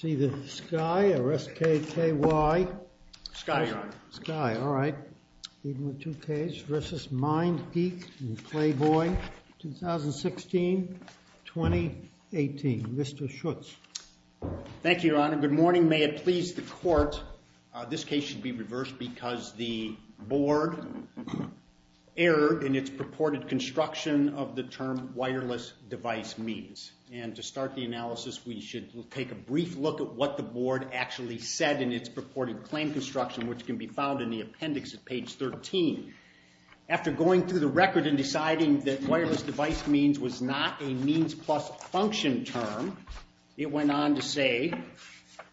See the sky, or S-K-K-Y? Sky, Your Honor. Sky, all right. Even with two Ks, v. MindGeek and Clayboy, 2016-2018. Mr. Schutz. Thank you, Your Honor. Good morning. May it please the Court, this case should be reversed because the board erred in its purported construction of the term wireless device means. And to start the analysis, we should take a brief look at what the board actually said in its purported claim construction, which can be found in the appendix at page 13. After going through the record and deciding that wireless device means was not a means plus function term, it went on to say,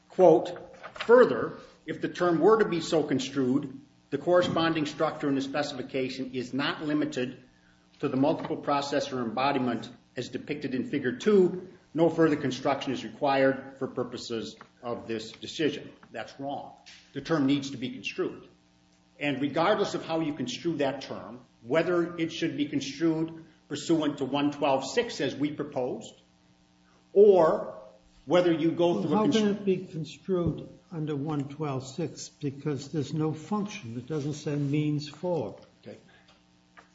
quote, further, if the term were to be so construed, the corresponding structure and the specification is not limited to the multiple processor embodiment as depicted in Figure 2, no further construction is required for purposes of this decision. That's wrong. The term needs to be construed. And regardless of how you construe that term, whether it should be construed pursuant to 112.6 as we proposed, or whether you go through a construction... How can it be construed under 112.6 because there's no function? It doesn't say means for.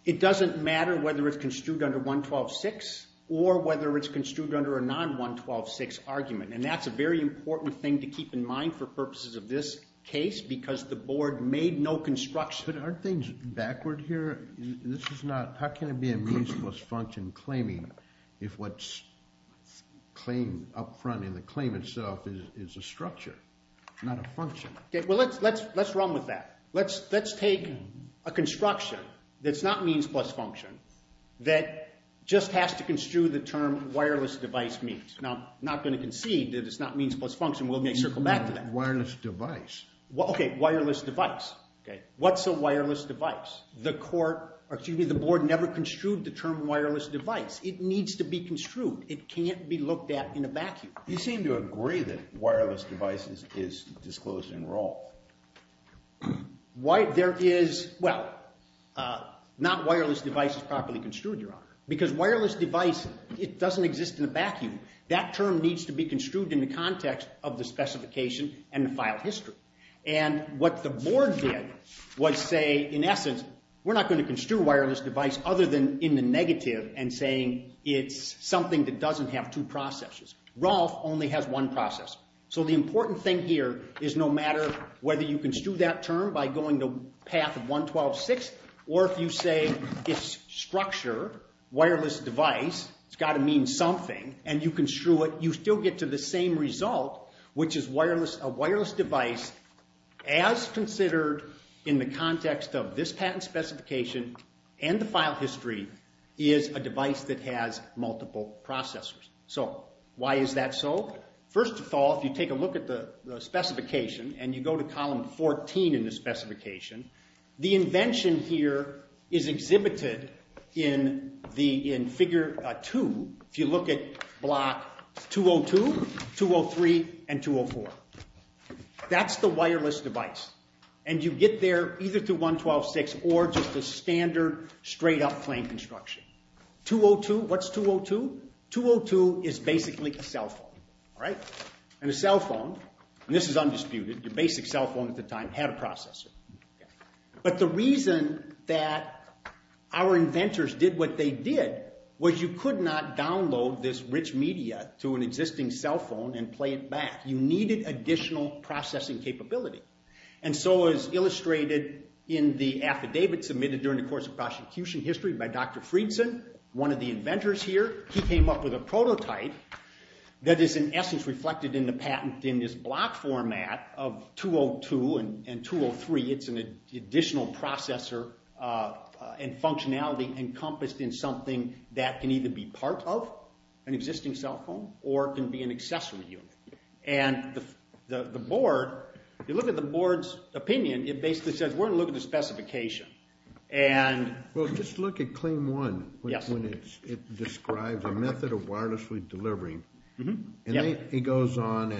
It doesn't matter whether it's construed under 112.6 or whether it's construed under a non-112.6 argument. And that's a very important thing to keep in mind for purposes of this case because the board made no construction. But aren't things backward here? This is not... How can it be a means plus function claiming if what's claimed up front in the claim itself is a structure, not a function? Well, let's run with that. Let's take a construction that's not means plus function that just has to construe the term wireless device means. Now, I'm not going to concede that it's not means plus function. We'll get circled back to that. Wireless device. Okay, wireless device. What's a wireless device? The court... Excuse me, the board never construed the term wireless device. It needs to be construed. It can't be looked at in a vacuum. You seem to agree that wireless device is disclosed in Rolfe. There is... Well, not wireless device is properly construed, Your Honor. Because wireless device, it doesn't exist in a vacuum. That term needs to be construed in the context of the specification and the file history. And what the board did was say, in essence, we're not going to construe wireless device other than in the negative and saying it's something that doesn't have two processes. Rolfe only has one process. So, the important thing here is no matter whether you construe that term by going to path of 112.6 or if you say it's structure, wireless device, it's got to mean something and you construe it, you still get to the same result, which is a wireless device as considered in the context of this patent specification and the file history is a device that has multiple processors. So, why is that so? First of all, if you take a look at the specification and you go to column 14 in the specification, the invention here is exhibited in the... in figure 2. If you look at block 202, 203, and 204. That's the wireless device. And you get there either through 112.6 or just a standard straight up plain construction. 202, what's 202? 202 is basically a cell phone, right? And a cell phone, and this is undisputed, your basic cell phone at the time had a processor. But the reason that our inventors did what they did was you could not download this rich media to an existing cell phone and play it back. You needed additional processing capability. And so, as illustrated in the affidavit submitted during the course of prosecution history by Dr. Friedson, one of the inventors here, he came up with a prototype that is in essence reflected in the patent in this block format of 202 and 203. It's an additional processor and functionality encompassed in something that can either be part of an existing cell phone or can be an accessory unit. And the board, if you look at the board's opinion, it basically says we're going to look at the specification. Well, just look at claim one when it describes a method of wirelessly delivering. It goes on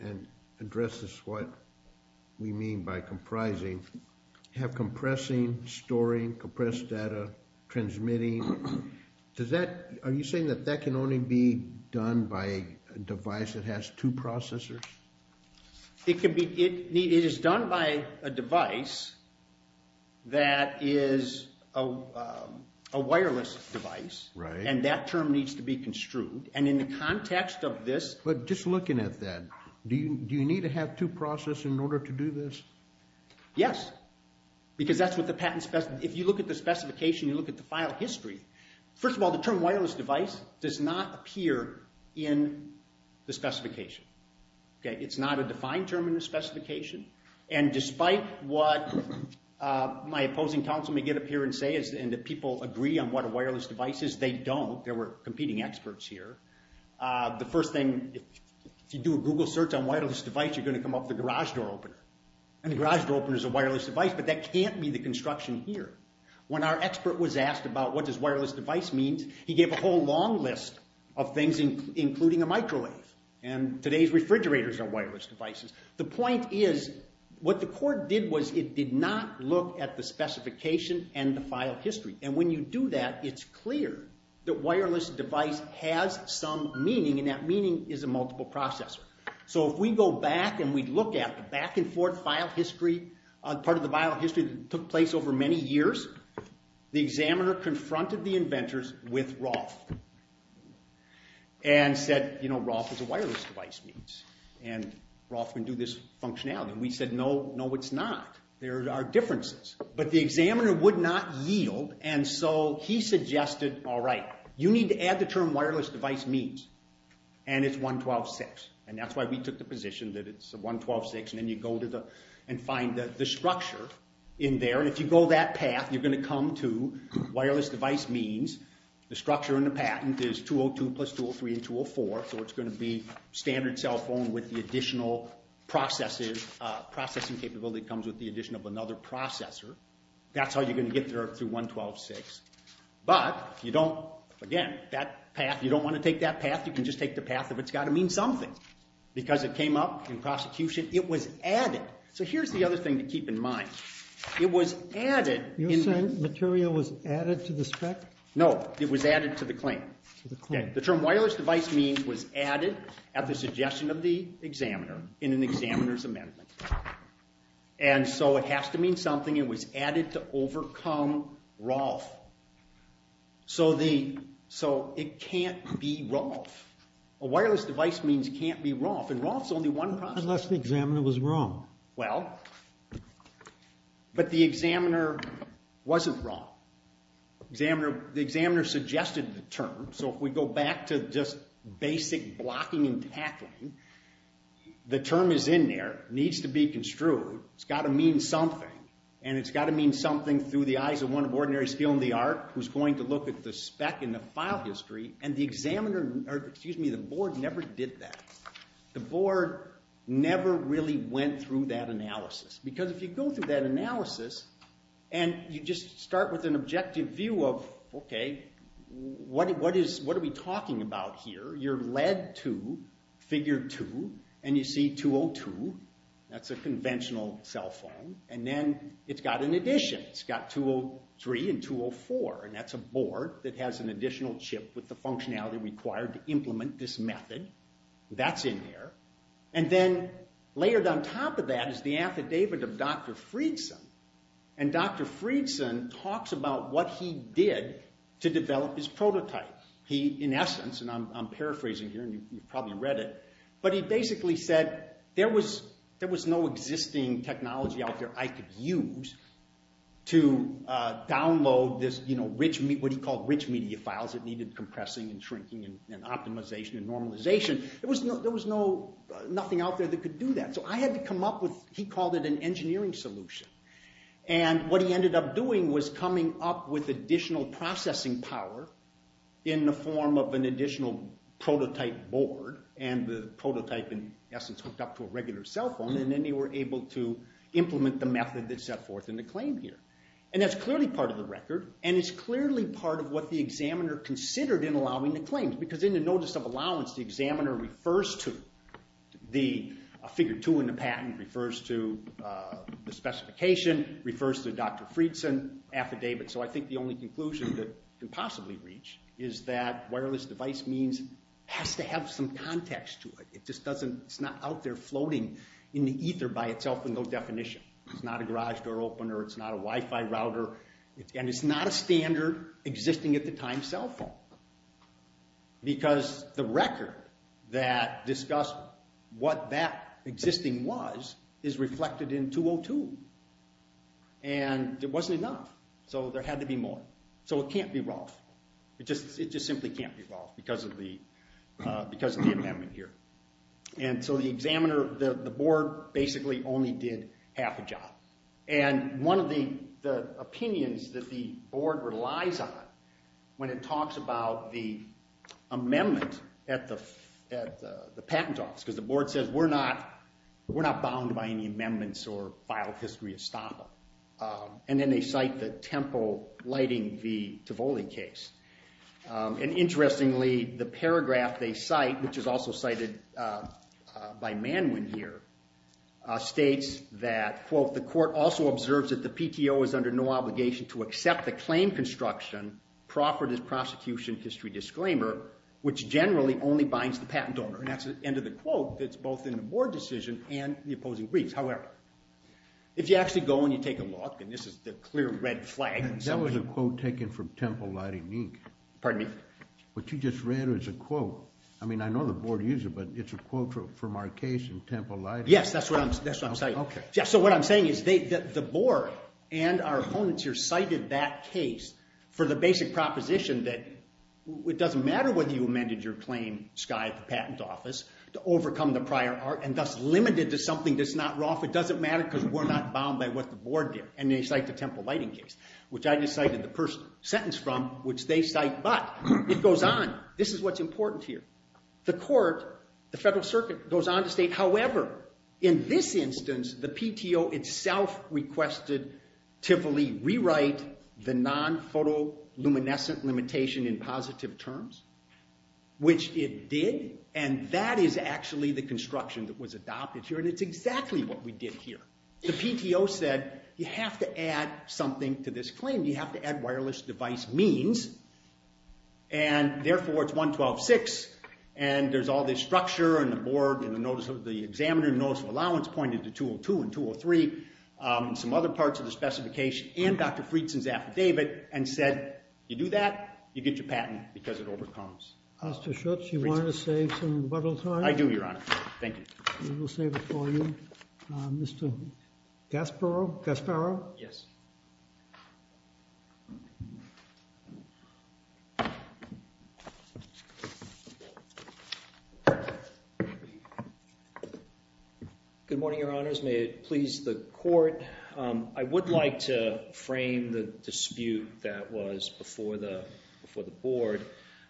and addresses what we mean by comprising. Have compressing, storing, compressed data, transmitting. Are you saying that that can only be done by a device that has two processors? It can be. It is done by a device that is a wireless device. Right. And that term needs to be construed. And in the context of this. But just looking at that, do you need to have two processors in order to do this? Yes, because that's what the patent specifies. If you look at the specification, you look at the file history. First of all, the term wireless device does not appear in the specification. It's not a defined term in the specification. And despite what my opposing counsel may get up here and say, and that people agree on what a wireless device is, they don't. There were competing experts here. The first thing, if you do a Google search on wireless device, you're going to come up with a garage door opener. And a garage door opener is a wireless device, but that can't be the construction here. When our expert was asked about what does wireless device mean, he gave a whole long list of things, including a microwave. And today's refrigerators are wireless devices. The point is, what the court did was it did not look at the specification and the file history. And when you do that, it's clear that wireless device has some meaning. And that meaning is a multiple processor. So if we go back and we look at the back and forth file history, part of the file history that took place over many years, the examiner confronted the inventors with Roth and said, you know, Roth is a wireless device means. And Roth can do this functionality. And we said, no, no, it's not. There are differences. But the examiner would not yield. And so he suggested, all right, you need to add the term wireless device means. And it's 112.6. And that's why we took the position that it's 112.6. And then you go and find the structure in there. And if you go that path, you're going to come to wireless device means. The structure in the patent is 202 plus 203 and 204. So it's going to be standard cell phone with the additional processing capability comes with the addition of another processor. That's how you're going to get there through 112.6. But you don't, again, that path, you don't want to take that path. You can just take the path of it's got to mean something. Because it came up in prosecution. It was added. So here's the other thing to keep in mind. It was added. You're saying material was added to the spec? No. It was added to the claim. To the claim. The term wireless device means was added at the suggestion of the examiner in an examiner's amendment. And so it has to mean something. It was added to overcome Roth. So it can't be Roth. A wireless device means can't be Roth. And Roth's only one process. Unless the examiner was wrong. Well, but the examiner wasn't wrong. The examiner suggested the term. So if we go back to just basic blocking and tackling, the term is in there, needs to be construed. It's got to mean something. And it's got to mean something through the eyes of one of ordinary skill in the art who's going to look at the spec and the file history. And the board never did that. The board never really went through that analysis. Because if you go through that analysis, and you just start with an objective view of, okay, what are we talking about here? You're led to figure two, and you see 202. That's a conventional cell phone. And then it's got an addition. It's got 203 and 204. And that's a board that has an additional chip with the functionality required to implement this method. That's in there. And then layered on top of that is the affidavit of Dr. Friedson. And Dr. Friedson talks about what he did to develop his prototype. He, in essence, and I'm paraphrasing here, and you've probably read it, but he basically said there was no existing technology out there I could use to download what he called rich media files that needed compressing and shrinking and optimization and normalization. There was nothing out there that could do that. So I had to come up with, he called it an engineering solution. And what he ended up doing was coming up with additional processing power in the form of an additional prototype board. And the prototype, in essence, hooked up to a regular cell phone. And then they were able to implement the method that's set forth in the claim here. And that's clearly part of the record. And it's clearly part of what the examiner considered in allowing the claims. Because in the notice of allowance, the examiner refers to the figure 2 in the patent, refers to the specification, refers to Dr. Friedson, affidavit. So I think the only conclusion that you can possibly reach is that wireless device means it has to have some context to it. It's not out there floating in the ether by itself with no definition. It's not a garage door opener. It's not a Wi-Fi router. And it's not a standard existing at the time cell phone. Because the record that discussed what that existing was is reflected in 202. And it wasn't enough. So there had to be more. So it can't be Ralph. It just simply can't be Ralph because of the amendment here. And so the board basically only did half a job. And one of the opinions that the board relies on when it talks about the amendment at the patent office, because the board says, we're not bound by any amendments or file history estoppel. And then they cite the Tempo Lighting v. Tivoli case. And interestingly, the paragraph they cite, which is also cited by Manwin here, states that, quote, the court also observes that the PTO is under no obligation to accept the claim construction proffered as prosecution history disclaimer, which generally only binds the patent owner. And that's the end of the quote that's both in the board decision and the opposing briefs. However, if you actually go and you take a look, and this is the clear red flag. That was a quote taken from Tempo Lighting Inc. Pardon me? What you just read was a quote. I mean, I know the board used it, but it's a quote from our case in Tempo Lighting. Yes, that's what I'm saying. OK. Yeah, so what I'm saying is the board and our opponents here cited that case for the basic proposition that it doesn't matter whether you amended your claim, Skye, at the patent office, to overcome the prior art and thus limited to something that's not rough. It doesn't matter because we're not bound by what the board did. And they cite the Tempo Lighting case, which I just cited the first sentence from, which they cite. But it goes on. This is what's important here. The court, the Federal Circuit, goes on to state, however, in this instance, the PTO itself requested Tivoli rewrite the non-photoluminescent limitation in positive terms, which it did. And that is actually the construction that was adopted here. And it's exactly what we did here. The PTO said, you have to add something to this claim. You have to add wireless device means. And therefore, it's 112.6. And there's all this structure. And the board and the examiner notice of allowance pointed to 202 and 203 and some other parts of the specification and Dr. Friedson's affidavit and said, you do that, you get your patent because it overcomes. Mr. Schutz, you want to save some rebuttal time? I do, Your Honor. Thank you. We will save it for you. Mr. Gasparro? Gasparro? Good morning, Your Honors. May it please the court. I would like to frame the dispute that was before the board.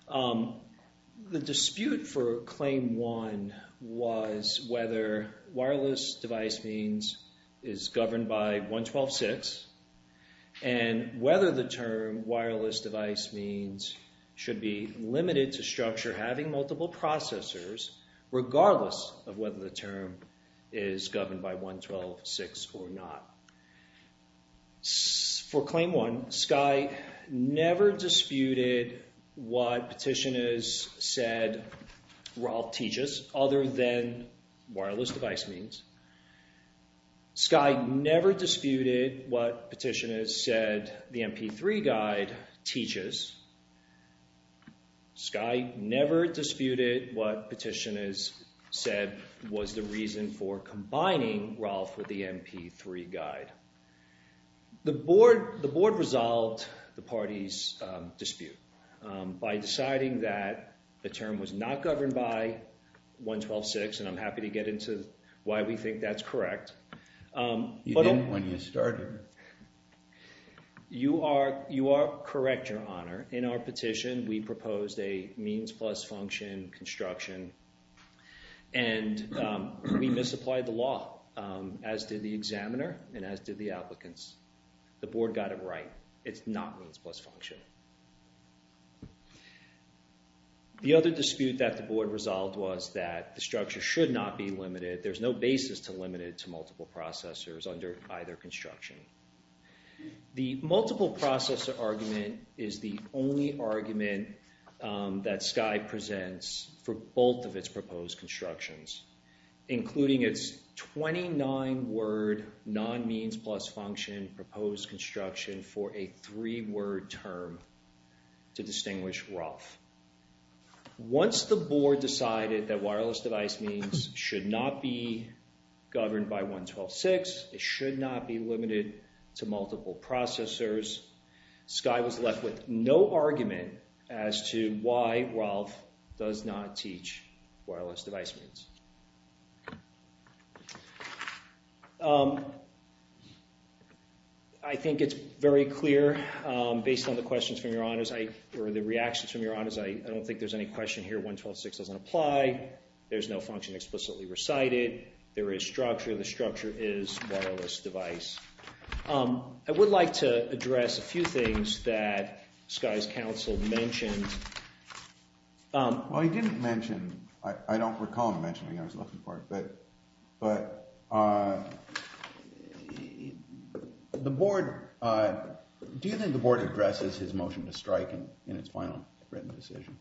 The dispute for Claim 1 was whether wireless device means is governed by 112.6 and whether the term wireless device means should be limited to structure having multiple processors regardless of whether the term is governed by 112.6 or not. For Claim 1, Skye never disputed what petitioners said Rolfe teaches other than wireless device means. Skye never disputed what petitioners said the MP3 guide teaches. Skye never disputed what petitioners said was the reason for combining Rolfe with the MP3 guide. The board resolved the party's dispute by deciding that the term was not governed by 112.6, and I'm happy to get into why we think that's correct. You didn't when you started. You are correct, Your Honor. In our petition, we proposed a means plus function construction, and we misapplied the law, as did the examiner and as did the applicants. The board got it right. It's not means plus function. The other dispute that the board resolved was that the structure should not be limited. There's no basis to limit it to multiple processors under either construction. The multiple processor argument is the only argument that Skye presents for both of its proposed constructions, including its 29-word non-means plus function proposed construction for a three-word term to distinguish Rolfe. Once the board decided that wireless device means should not be governed by 112.6, it should not be limited to multiple processors, Skye was left with no argument as to why Rolfe does not teach wireless device means. I think it's very clear, based on the questions from Your Honors, or the reactions from Your Honors, I don't think there's any question here. 112.6 doesn't apply. There's no function explicitly recited. There is structure. The structure is wireless device. I would like to address a few things that Skye's counsel mentioned. Well, he didn't mention. I don't recall him mentioning it. I was looking for it. But the board, do you think the board addresses his motion to strike in its final written decision?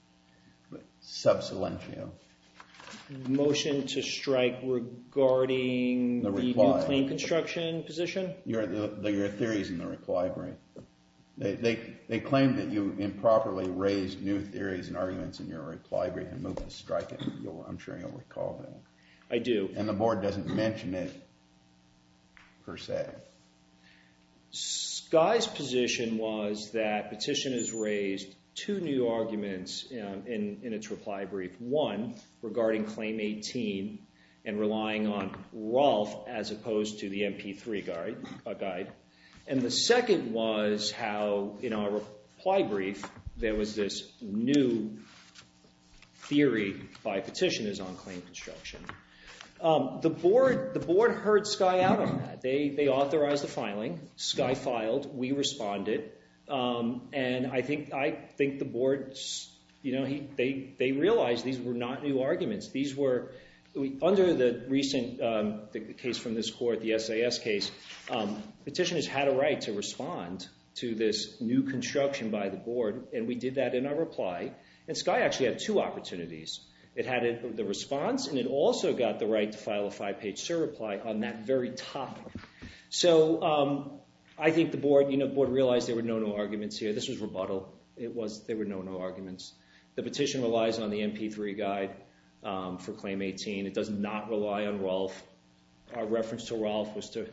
But sub silentio. Motion to strike regarding the new claim construction position? Your theories in the reply brief. They claim that you improperly raised new theories and arguments in your reply brief and moved to strike it. I'm sure you'll recall that. I do. And the board doesn't mention it, per se. Skye's position was that petitioners raised two new arguments in its reply brief. One, regarding claim 18 and relying on Rolfe as opposed to the MP3 guide. And the second was how, in our reply brief, there was this new theory by petitioners on claim construction. The board heard Skye out on that. They authorized the filing. Skye filed. We responded. And I think the board, they realized these were not new arguments. These were under the recent case from this court, the SAS case, petitioners had a right to respond to this new construction by the board. And we did that in our reply. And Skye actually had two opportunities. It had the response, and it also got the right to file a five-page cert reply on that very topic. So I think the board realized there were no new arguments here. This was rebuttal. There were no new arguments. The petition relies on the MP3 guide for claim 18. It does not rely on Rolfe. Our reference to Rolfe was to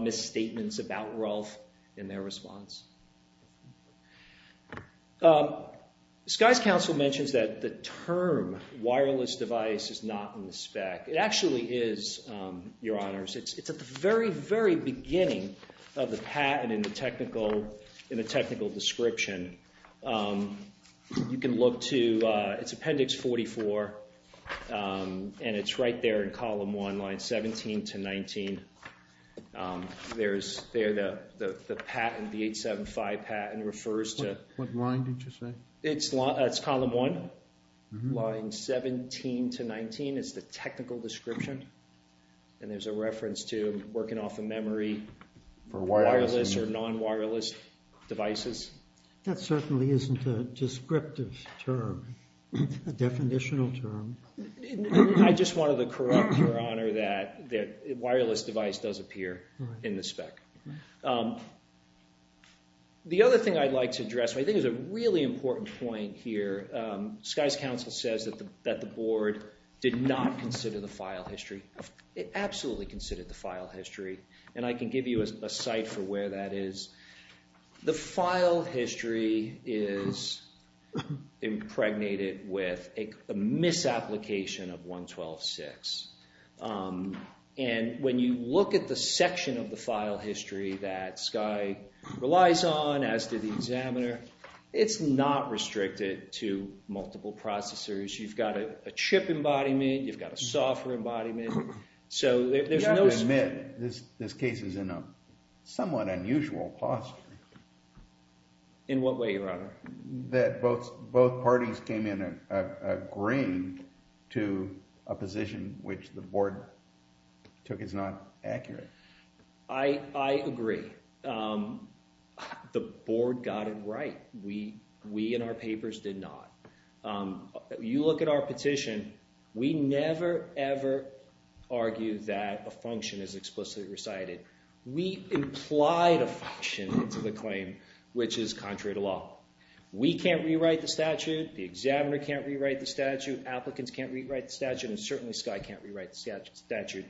misstatements about Rolfe in their response. Skye's counsel mentions that the term wireless device is not in the spec. It actually is, Your Honors. It's at the very, very beginning of the patent in the technical description. You can look to its appendix 44, and it's right there in column 1, line 17 to 19. There's there the patent, the 875 patent refers to. What line did you say? It's column 1, line 17 to 19 is the technical description. And there's a reference to working off a memory for wireless or non-wireless devices. That certainly isn't a descriptive term, a definitional term. I just wanted to correct, Your Honor, that wireless device does appear in the spec. The other thing I'd like to address, I think, is a really important point here. Skye's counsel says that the board did not consider the file history. It absolutely considered the file history, and I can give you a site for where that is. The file history is impregnated with a misapplication of 112.6. And when you look at the section of the file history that Skye relies on, as did the examiner, it's not restricted to multiple processors. You've got a chip embodiment. You've got a software embodiment. I have to admit, this case is in a somewhat unusual posture. In what way, Your Honor? That both parties came in agreeing to a position which the board took as not accurate. I agree. The board got it right. We, in our papers, did not. You look at our petition. We never, ever argue that a function is explicitly recited. We implied a function into the claim, which is contrary to law. We can't rewrite the statute. The examiner can't rewrite the statute. Applicants can't rewrite the statute, and certainly Skye can't rewrite the statute.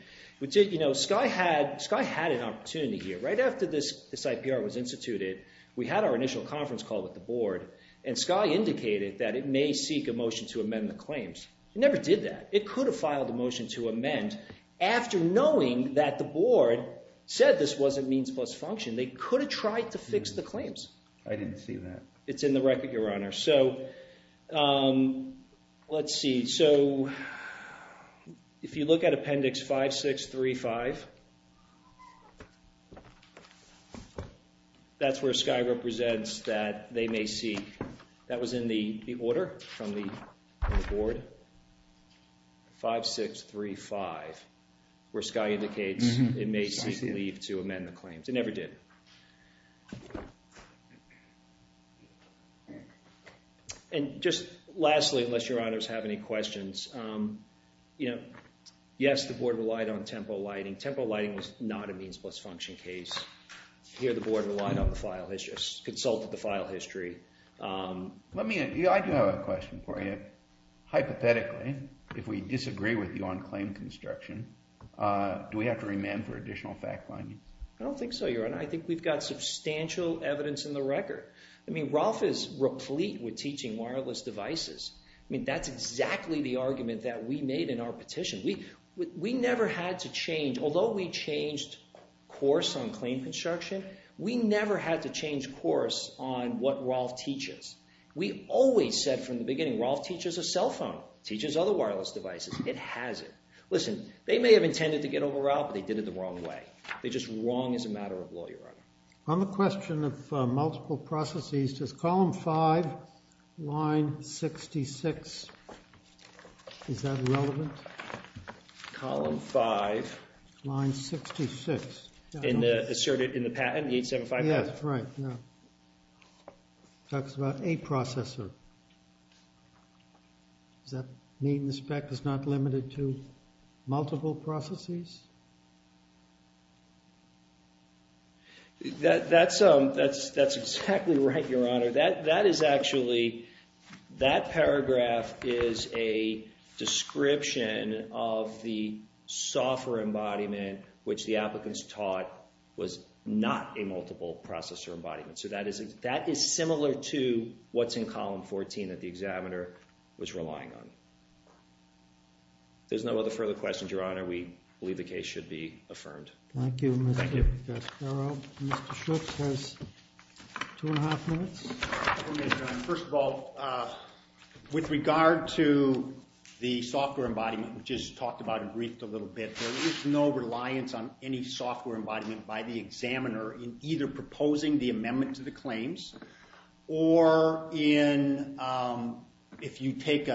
Skye had an opportunity here. Right after this IPR was instituted, we had our initial conference call with the board, and Skye indicated that it may seek a motion to amend the claims. It never did that. It could have filed a motion to amend after knowing that the board said this wasn't means plus function. They could have tried to fix the claims. I didn't see that. It's in the record, Your Honor. So, let's see. So, if you look at Appendix 5635, that's where Skye represents that they may seek. That was in the order from the board. 5635, where Skye indicates it may seek leave to amend the claims. It never did. And just lastly, unless Your Honors have any questions, you know, yes, the board relied on temporal lighting. Temporal lighting was not a means plus function case. Here the board relied on the file history, consulted the file history. I do have a question for you. Hypothetically, if we disagree with you on claim construction, do we have to remand for additional fact-finding? I don't think so, Your Honor. I think we've got substantial evidence in the record. I mean, Rolfe is replete with teaching wireless devices. I mean, that's exactly the argument that we made in our petition. We never had to change. Although we changed course on claim construction, we never had to change course on what Rolfe teaches. We always said from the beginning, Rolfe teaches a cell phone, teaches other wireless devices. It has it. Listen, they may have intended to get over Rolfe, but they did it the wrong way. They're just wrong as a matter of law, Your Honor. On the question of multiple processes, does column 5, line 66, is that relevant? Column 5. Line 66. Asserted in the patent, 875. Yes, right. Talks about a processor. Does that mean the spec is not limited to multiple processes? That's exactly right, Your Honor. That is actually, that paragraph is a description of the software embodiment, which the applicants taught was not a multiple processor embodiment. So that is similar to what's in column 14 that the examiner was relying on. If there's no other further questions, Your Honor, we believe the case should be affirmed. Thank you, Mr. Spero. Mr. Schuch has two and a half minutes. First of all, with regard to the software embodiment we just talked about and briefed a little bit, there is no reliance on any software embodiment by the examiner in either proposing the amendment to the claims or if you take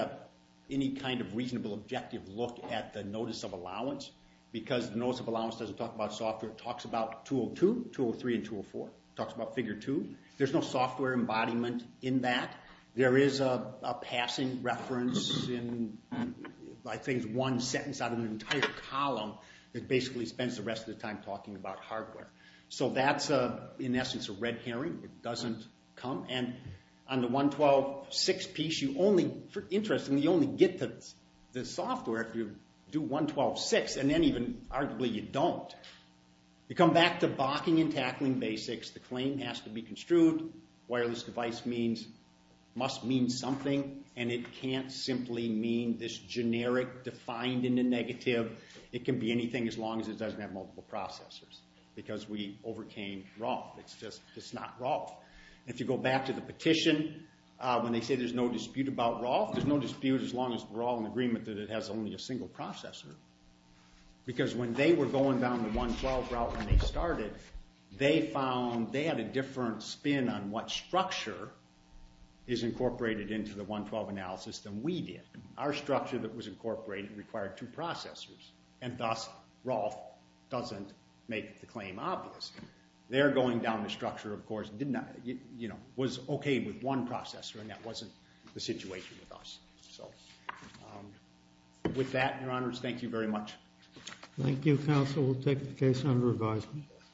any kind of reasonable objective look at the notice of allowance, because the notice of allowance doesn't talk about software. It talks about 202, 203, and 204. It talks about figure two. There's no software embodiment in that. There is a passing reference in, I think, one sentence out of an entire column that basically spends the rest of the time talking about hardware. So that's, in essence, a red herring. It doesn't come. On the 112.6 piece, interestingly, you only get to the software if you do 112.6, and then even arguably you don't. You come back to balking and tackling basics. The claim has to be construed. Wireless device must mean something, and it can't simply mean this generic defined in the negative. It can be anything as long as it doesn't have multiple processors, because we overcame ROLF. It's just not ROLF. If you go back to the petition, when they say there's no dispute about ROLF, there's no dispute as long as we're all in agreement that it has only a single processor, because when they were going down the 112 route when they started, they found they had a different spin on what structure is incorporated into the 112 analysis than we did. Our structure that was incorporated required two processors, and thus ROLF doesn't make the claim obvious. Their going down the structure, of course, was okay with one processor, and that wasn't the situation with us. So with that, Your Honors, thank you very much. Thank you, counsel. We'll take the case under advisement.